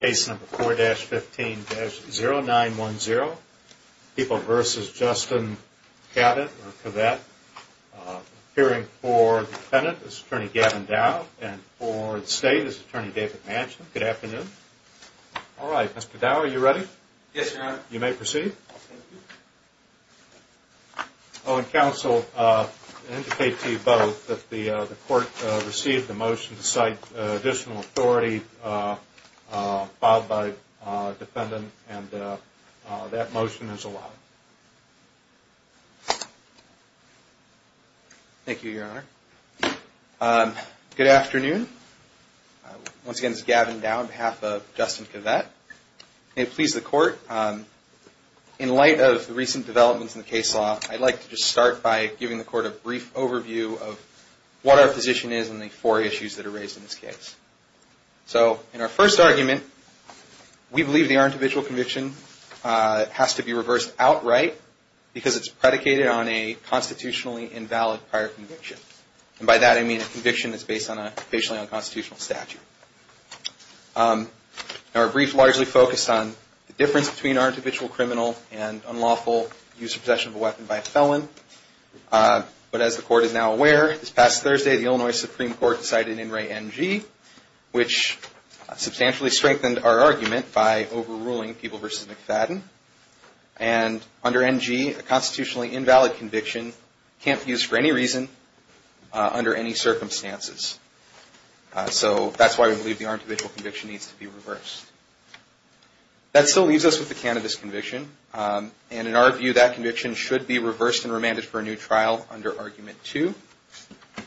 Case number 4-15-0910, People v. Justin Cavette. Appearing for defendant is attorney Gavin Dow and for the state is attorney David Manchin. Good afternoon. All right, Mr. Dow, are you ready? Yes, your honor. You may proceed. Oh, and counsel, I'll indicate to you both that the court received the motion to cite additional authority filed by defendant and that motion is allowed. Thank you, your honor. Good afternoon. Once again, this is Gavin Dow on behalf of Justin Cavette. May it please the court, in light of the recent developments in the case law, I'd like to just start by giving the court a brief overview of what our position is on the four issues that are raised in this case. So in our first argument, we believe that our individual conviction has to be reversed outright because it's predicated on a constitutionally invalid prior conviction. By that I mean a conviction that's based on a basically unconstitutional statute. Our brief largely focused on the difference between our individual criminal and unlawful use or possession of a weapon by a felon. But as the court is now aware, this past Thursday, the Illinois Supreme Court decided in Ray NG, which substantially strengthened our argument by overruling Peeble v. McFadden. And under NG, a constitutionally invalid conviction can't be used for any reason under any circumstances. So that's why we believe our individual conviction needs to be reversed. That still leaves us with the cannabis conviction, and in our view, that conviction should be reversed and remanded for a new trial under Argument 2,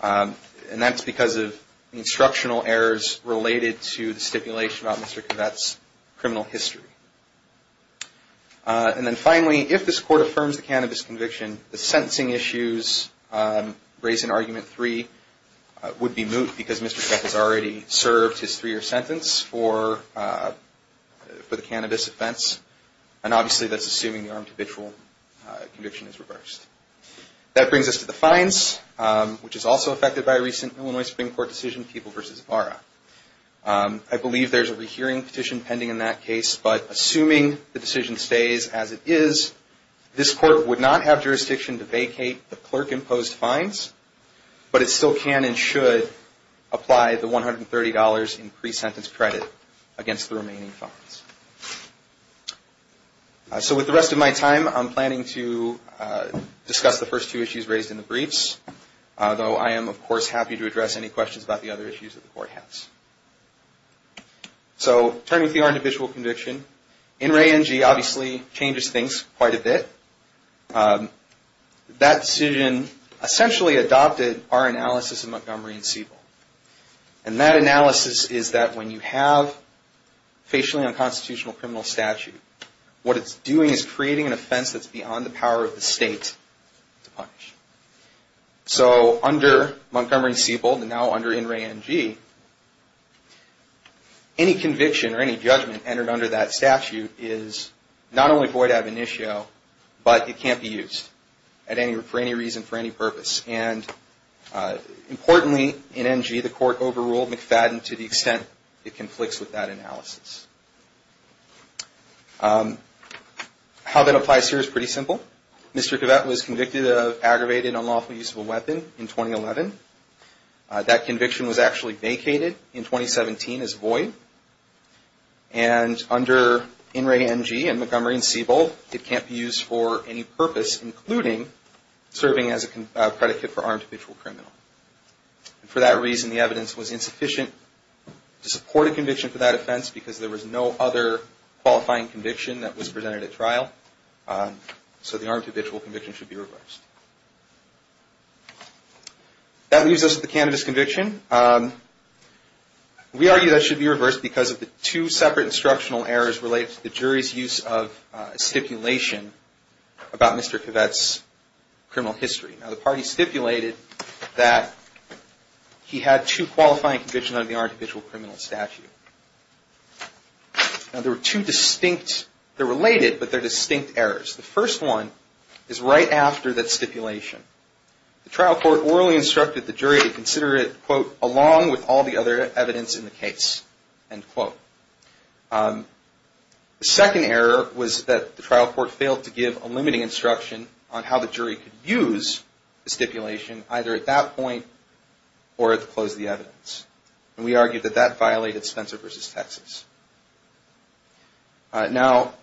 and that's because of instructional errors related to the stipulation about Mr. Cavette's criminal history. And then finally, if this court affirms the cannabis conviction, the sentencing issues raised in Argument 3 would be moot because Mr. Cavette has already served his three-year sentence for the cannabis offense, and obviously that's assuming the armed habitual conviction is reversed. That brings us to the fines, which is also affected by a recent Illinois Supreme Court decision, Peeble v. Vara. I believe there's a rehearing petition pending in that case, but assuming the decision stays as it is, this court would not have jurisdiction to vacate the clerk-imposed fines, but it still can and should apply the $130 in pre-sentence credit against the remaining fines. So with the rest of my time, I'm planning to discuss the first two issues raised in the briefs, though I am, of course, happy to address any questions about the other issues that the court has. So turning to the armed habitual conviction. In re NG, obviously, changes things quite a bit. That decision essentially adopted our analysis of Montgomery v. Siebel, and that analysis is that when you have facially unconstitutional criminal statute, what it's doing is creating an offense that's beyond the power of the state to punish. So under Montgomery v. Siebel, and now under In re NG, any conviction or any judgment entered under that statute is not only void ab initio, but it can't be used for any reason, for any purpose, and importantly, in NG, the court overruled McFadden to the extent it conflicts with that analysis. How that applies here is pretty simple. Mr. Quevette was convicted of aggravated unlawful use of a weapon in 2011. That conviction was actually vacated in 2017 as void, and under In re NG and Montgomery v. Siebel, it can't be used for any purpose, including serving as a credit kit for armed habitual criminal. For that reason, the evidence was insufficient to support a conviction for that offense because there was no other qualifying conviction that was presented at trial. So the armed habitual conviction should be reversed. That leaves us with the candidate's conviction. We argue that it should be reversed because of the two separate instructional errors related to the jury's use of a stipulation about Mr. Quevette's criminal history. Now, the party stipulated that he had two qualifying convictions under the armed habitual criminal statute. Now, there were two distinct, they're related, but they're distinct errors. The first one is right after that stipulation. The trial court orally instructed the jury to consider it, quote, along with all the other evidence in the case, end quote. The second error was that the trial court failed to give a limiting instruction on how the jury could use the stipulation either at that point or at the close of the evidence. And we argue that that violated Spencer v. Texas. Now,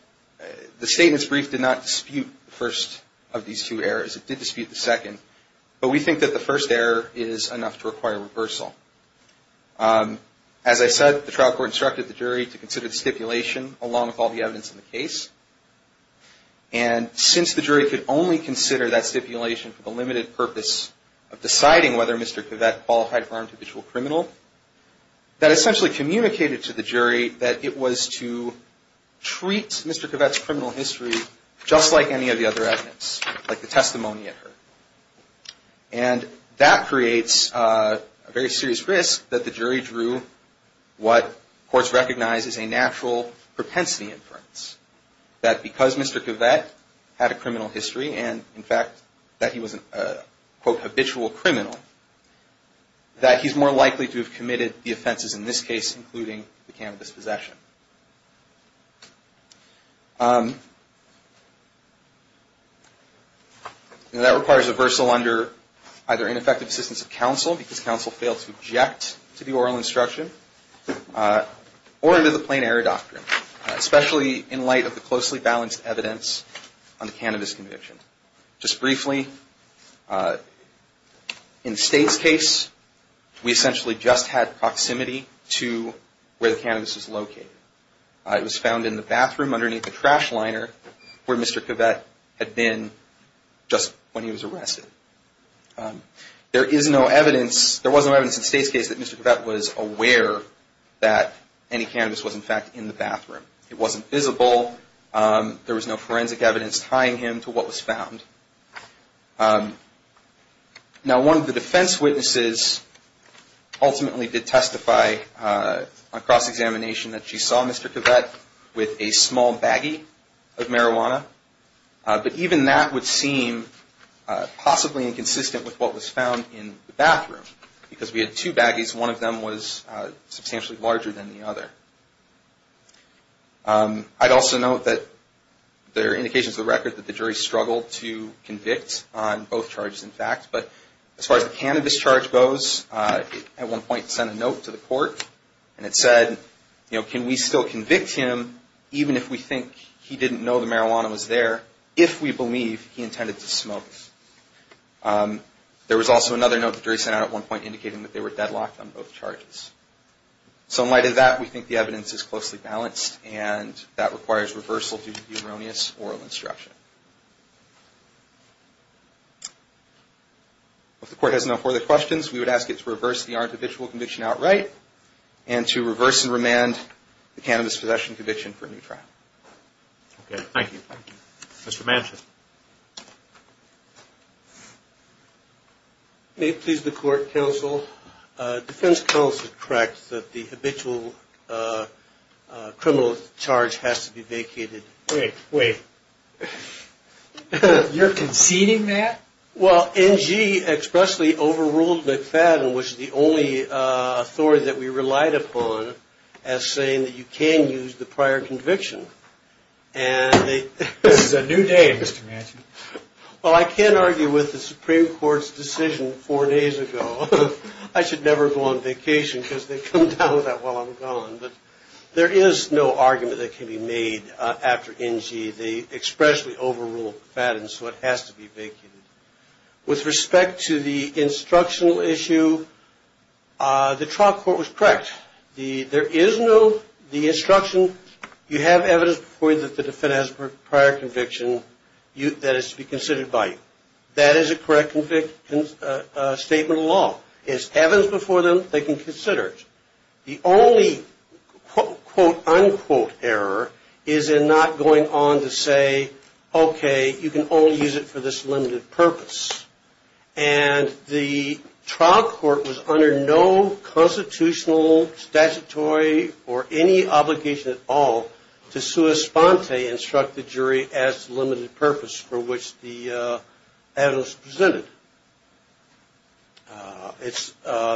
the statement's brief did not dispute the first of these two errors. It did dispute the second. But we think that the first error is enough to require reversal. As I said, the trial court instructed the jury to consider the stipulation along with all the evidence in the case. And since the jury could only consider that stipulation for the limited purpose of deciding whether Mr. Kovett qualified for armed habitual criminal, that essentially communicated to the jury that it was to treat Mr. Kovett's criminal history just like any of the other evidence, like the testimony it heard. And that creates a very serious risk that the jury drew what courts recognize as a natural propensity inference, that because Mr. Kovett had a criminal history and, in fact, that he was a, quote, habitual criminal, that he's more likely to have committed the offenses in this case, including the cannabis possession. Now, that requires reversal under either ineffective assistance of counsel, because counsel failed to object to the oral instruction, or under the plain error doctrine, especially in light of the closely balanced evidence on the cannabis conviction. Just briefly, in State's case, we essentially just had proximity to where the cannabis was located. It was found in the bathroom underneath the trash liner where Mr. Kovett had been just when he was arrested. There is no evidence, there was no evidence in State's case that Mr. Kovett was aware that any cannabis was, in fact, in the bathroom. It wasn't visible. There was no forensic evidence tying him to what was found. Now, one of the defense witnesses ultimately did testify on cross-examination that she saw Mr. Kovett with a small baggie of marijuana. But even that would seem possibly inconsistent with what was found in the bathroom, because we had two baggies. One of them was substantially larger than the other. I'd also note that there are indications of the record that the jury struggled to convict on both charges, in fact. But as far as the cannabis charge goes, at one point it sent a note to the court, and it said, you know, can we still convict him, even if we think he didn't know the marijuana was there, if we believe he intended to smoke? There was also another note the jury sent out at one point indicating that they were deadlocked on both charges. So in light of that, we think the evidence is closely balanced, and that requires reversal due to erroneous oral instruction. If the court has no further questions, we would ask it to reverse the artificial conviction outright, and to reverse and remand the cannabis possession conviction for a new trial. Okay, thank you. Thank you. Mr. Manchin. May it please the court, counsel. Defense counsel is correct that the habitual criminal charge has to be vacated. Wait, wait. You're conceding that? Well, NG expressly overruled McFadden, which is the only authority that we relied upon, as saying that you can use the prior conviction. This is a new day, Mr. Manchin. Well, I can't argue with the Supreme Court's decision four days ago. I should never go on vacation because they come down with that while I'm gone. There is no argument that can be made after NG. They expressly overruled McFadden, so it has to be vacated. With respect to the instructional issue, the trial court was correct. There is no instruction. You have evidence before you that the defendant has a prior conviction that is to be considered by you. That is a correct statement of law. It's evidence before them. They can consider it. The only quote unquote error is in not going on to say, okay, you can only use it for this limited purpose. And the trial court was under no constitutional, statutory, or any obligation at all to sua sponte, instruct the jury, as to the limited purpose for which the evidence was presented.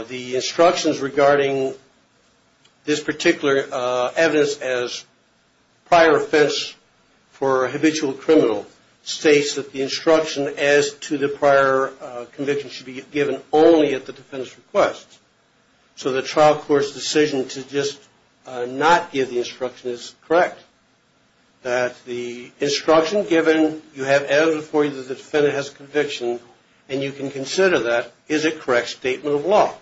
The instructions regarding this particular evidence as prior offense for a habitual criminal states that the instruction as to the prior conviction should be given only at the defendant's request. So the trial court's decision to just not give the instruction is correct. That the instruction given, you have evidence before you that the defendant has a conviction, and you can consider that, is a correct statement of law.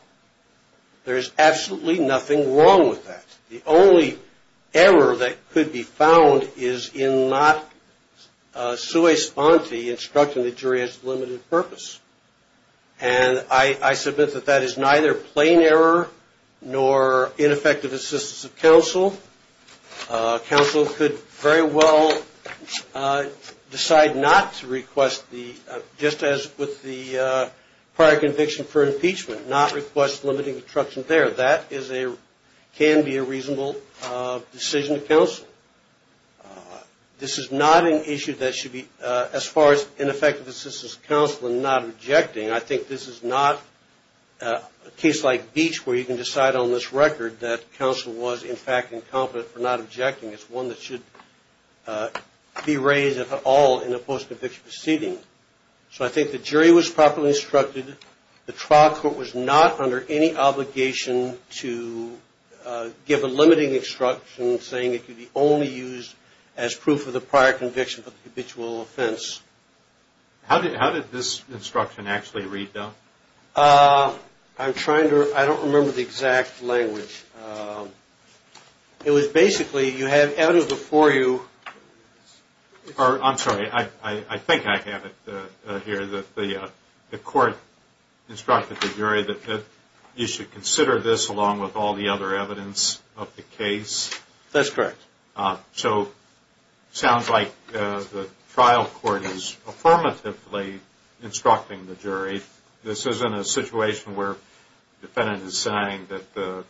There is absolutely nothing wrong with that. The only error that could be found is in not sua sponte, instructing the jury, as to the limited purpose. And I submit that that is neither plain error nor ineffective assistance of counsel. Counsel could very well decide not to request, just as with the prior conviction for impeachment, not request limiting instruction there. That can be a reasonable decision of counsel. This is not an issue that should be, as far as ineffective assistance of counsel and not objecting, I think this is not a case like Beach where you can decide on this record that counsel was, in fact, incompetent for not objecting. It's one that should be raised, if at all, in a post-conviction proceeding. So I think the jury was properly instructed. The trial court was not under any obligation to give a limiting instruction, saying it could be only used as proof of the prior conviction for the habitual offense. How did this instruction actually read, though? I'm trying to, I don't remember the exact language. It was basically, you have evidence before you. I'm sorry, I think I have it here that the court instructed the jury that you should consider this along with all the other evidence of the case. That's correct. So it sounds like the trial court is affirmatively instructing the jury. This isn't a situation where the defendant is saying that the,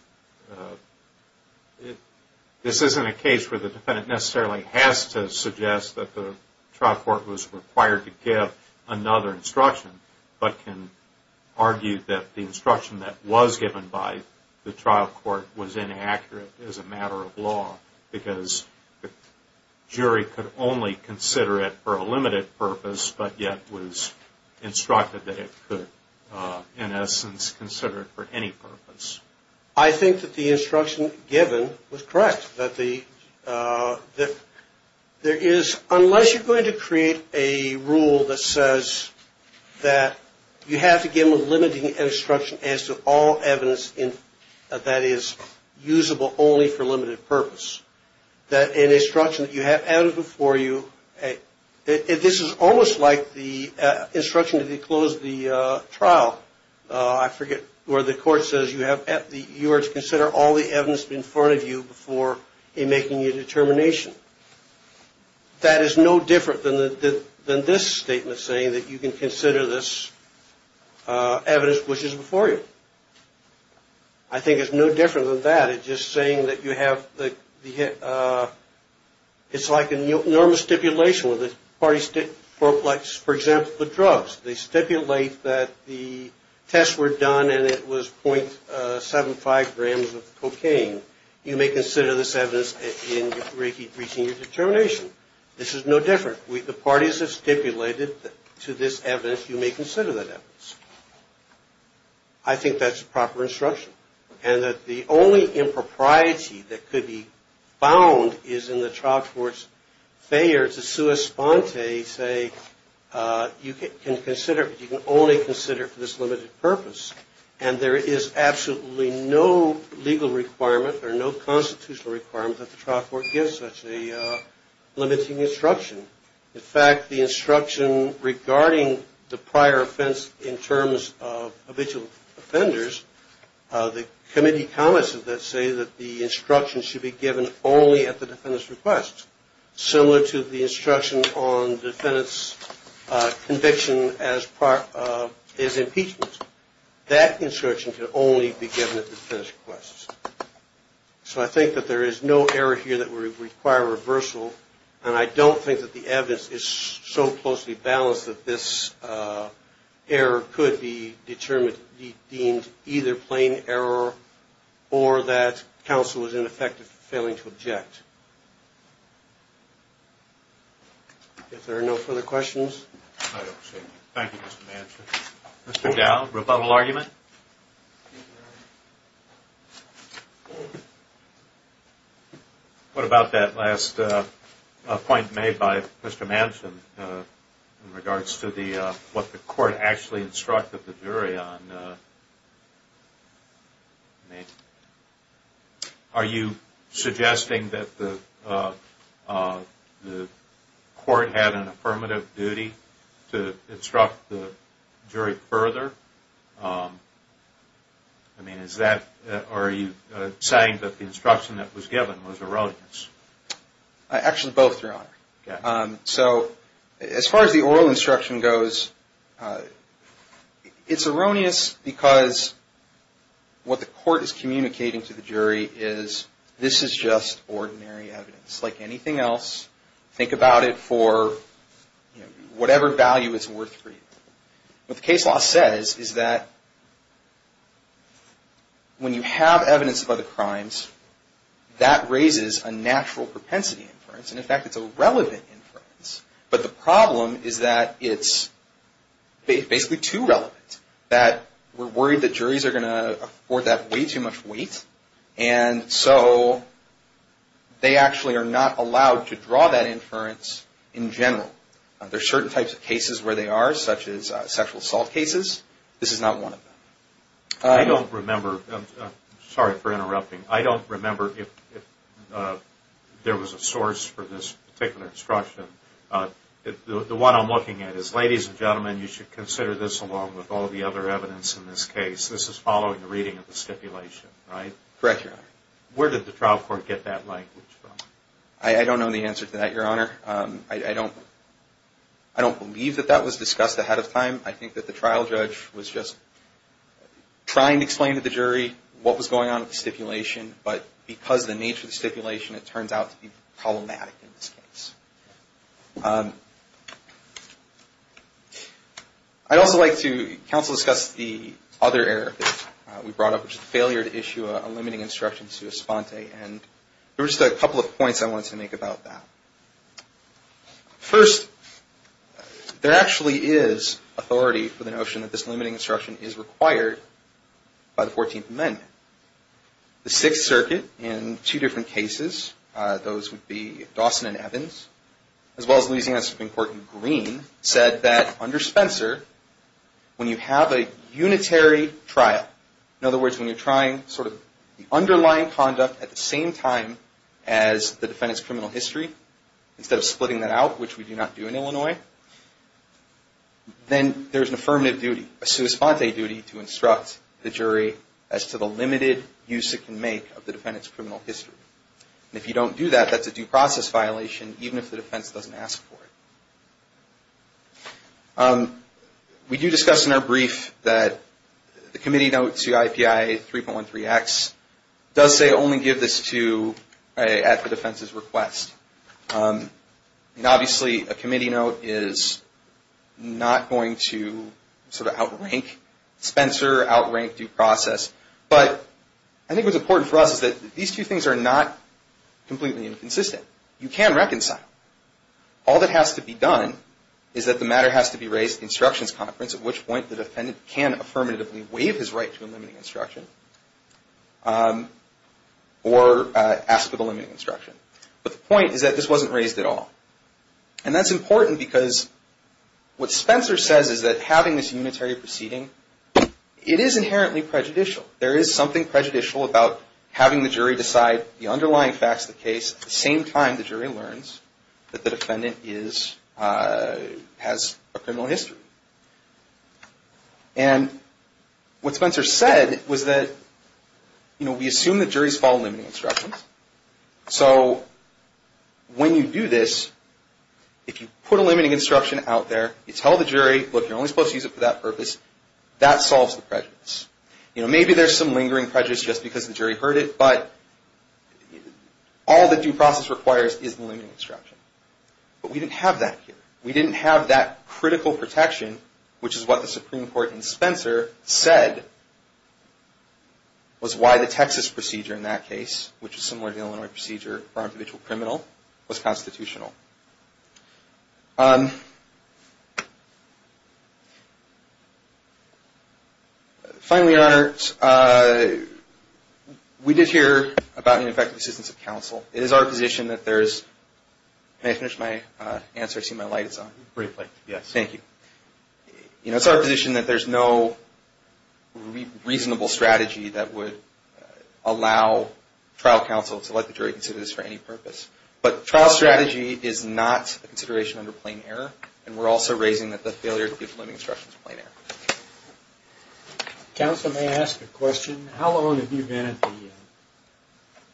this isn't a case where the defendant necessarily has to suggest that the trial court was required to give another instruction, but can argue that the instruction that was given by the trial court was inaccurate as a matter of law, because the jury could only consider it for a limited purpose, but yet was instructed that it could, in essence, consider it for any purpose. I think that the instruction given was correct, that there is, unless you're going to create a rule that says that you have to give a limiting instruction as to all evidence that is usable only for a limited purpose, that an instruction that you have evidence before you, this is almost like the instruction to close the trial, I forget, where the court says you have, you are to consider all the evidence in front of you before making your determination. That is no different than this statement saying that you can consider this evidence which is before you. I think it's no different than that. It's just saying that you have the, it's like a normal stipulation where the parties stipulate, for example, the drugs. They stipulate that the tests were done and it was .75 grams of cocaine. You may consider this evidence in reaching your determination. This is no different. The parties have stipulated to this evidence, you may consider that evidence. I think that's proper instruction, and that the only impropriety that could be found is in the trial court's failure to sui sponte, say you can consider, you can only consider it for this limited purpose. And there is absolutely no legal requirement, or no constitutional requirement, that the trial court gives such a limiting instruction. In fact, the instruction regarding the prior offense, in terms of habitual offenders, the committee comments of that say that the instruction should be given only at the defendant's request. Similar to the instruction on the defendant's conviction as part of his impeachment. That instruction can only be given at the defendant's request. So I think that there is no error here that would require reversal, and I don't think that the evidence is so closely balanced that this error could be determined, deemed either plain error, or that counsel was ineffective in failing to object. If there are no further questions. Thank you, Mr. Manson. Mr. Dowd, rebuttal argument? What about that last point made by Mr. Manson, in regards to what the court actually instructed the jury on? Are you suggesting that the court had an affirmative duty to instruct the jury further? Are you saying that the instruction that was given was erroneous? Actually, both, Your Honor. So, as far as the oral instruction goes, it's erroneous because what the court is communicating to the jury is, this is just ordinary evidence like anything else. Think about it for whatever value it's worth for you. What the case law says is that when you have evidence of other crimes, that raises a natural propensity inference, and in fact, it's a relevant inference. But the problem is that it's basically too relevant. We're worried that juries are going to afford that way too much weight. And so, they actually are not allowed to draw that inference in general. There are certain types of cases where they are, such as sexual assault cases. This is not one of them. I don't remember. Sorry for interrupting. I don't remember if there was a source for this particular instruction. The one I'm looking at is, Ladies and gentlemen, you should consider this along with all the other evidence in this case. This is following the reading of the stipulation, right? Correct, Your Honor. Where did the trial court get that language from? I don't know the answer to that, Your Honor. I don't believe that that was discussed ahead of time. I think that the trial judge was just trying to explain to the jury what was going on with the stipulation, but because of the nature of the stipulation, it turns out to be problematic in this case. I'd also like to counsel discuss the other error that we brought up, which is the failure to issue a limiting instruction to Esponte. And there were just a couple of points I wanted to make about that. First, there actually is authority for the notion that this limiting instruction is required by the 14th Amendment. The Sixth Circuit, in two different cases, those would be Dawson and Evans, as well as Louisiana Supreme Court in Green, said that under Spencer, when you have a unitary trial, in other words, when you're trying sort of the underlying conduct at the same time as the defendant's criminal history, instead of splitting that out, which we do not do in Illinois, then there's an affirmative duty, a sua sponte duty, to instruct the jury as to the limited use it can make of the defendant's criminal history. And if you don't do that, that's a due process violation, even if the defense doesn't ask for it. We do discuss in our brief that the committee note to IPI 3.13X does say only give this to, at the defense's request. And obviously a committee note is not going to sort of outrank Spencer, outrank due process. But I think what's important for us is that these two things are not completely inconsistent. You can reconcile. All that has to be done is that the matter has to be raised at the instructions conference, at which point the defendant can affirmatively waive his right to a limiting instruction, or ask for the limiting instruction. But the point is that this wasn't raised at all. And that's important because what Spencer says is that having this unitary proceeding, it is inherently prejudicial. There is something prejudicial about having the jury decide the underlying facts of the case at the same time the jury learns that the defendant has a criminal history. And what Spencer said was that, you know, we assume that juries follow limiting instructions. So when you do this, if you put a limiting instruction out there, you tell the jury, look, you're only supposed to use it for that purpose, that solves the prejudice. You know, maybe there's some lingering prejudice just because the jury heard it, but all the due process requires is the limiting instruction. But we didn't have that here. We didn't have that critical protection, which is what the Supreme Court and Spencer said, was why the Texas procedure in that case, which is similar to the Illinois procedure for an individual criminal, was constitutional. Finally, Your Honor, we did hear about ineffective assistance of counsel. It is our position that there's, may I finish my answer? I see my light is on. Briefly, yes. Thank you. You know, it's our position that there's no reasonable strategy that would allow trial counsel to let the jury consider this But trial strategy, you know, it's a very simple thing. It is not a consideration under plain error, and we're also raising that the failure to give limiting instructions is plain error. Counsel, may I ask a question? How long have you been at the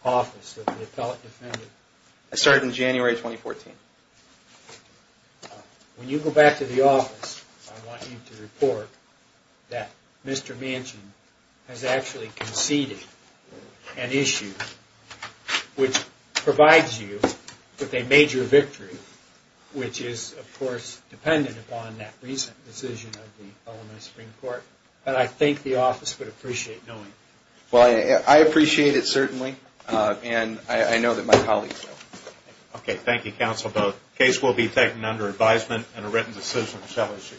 office of the appellate defendant? I started in January 2014. When you go back to the office, I want you to report that Mr. Manchin has actually conceded an issue which provides you with a major victory, which is, of course, dependent upon that recent decision of the Illinois Supreme Court, but I think the office would appreciate knowing. Well, I appreciate it, certainly, and I know that my colleagues know. Okay, thank you, counsel, both. Case will be taken under advisement and a written decision shall issue.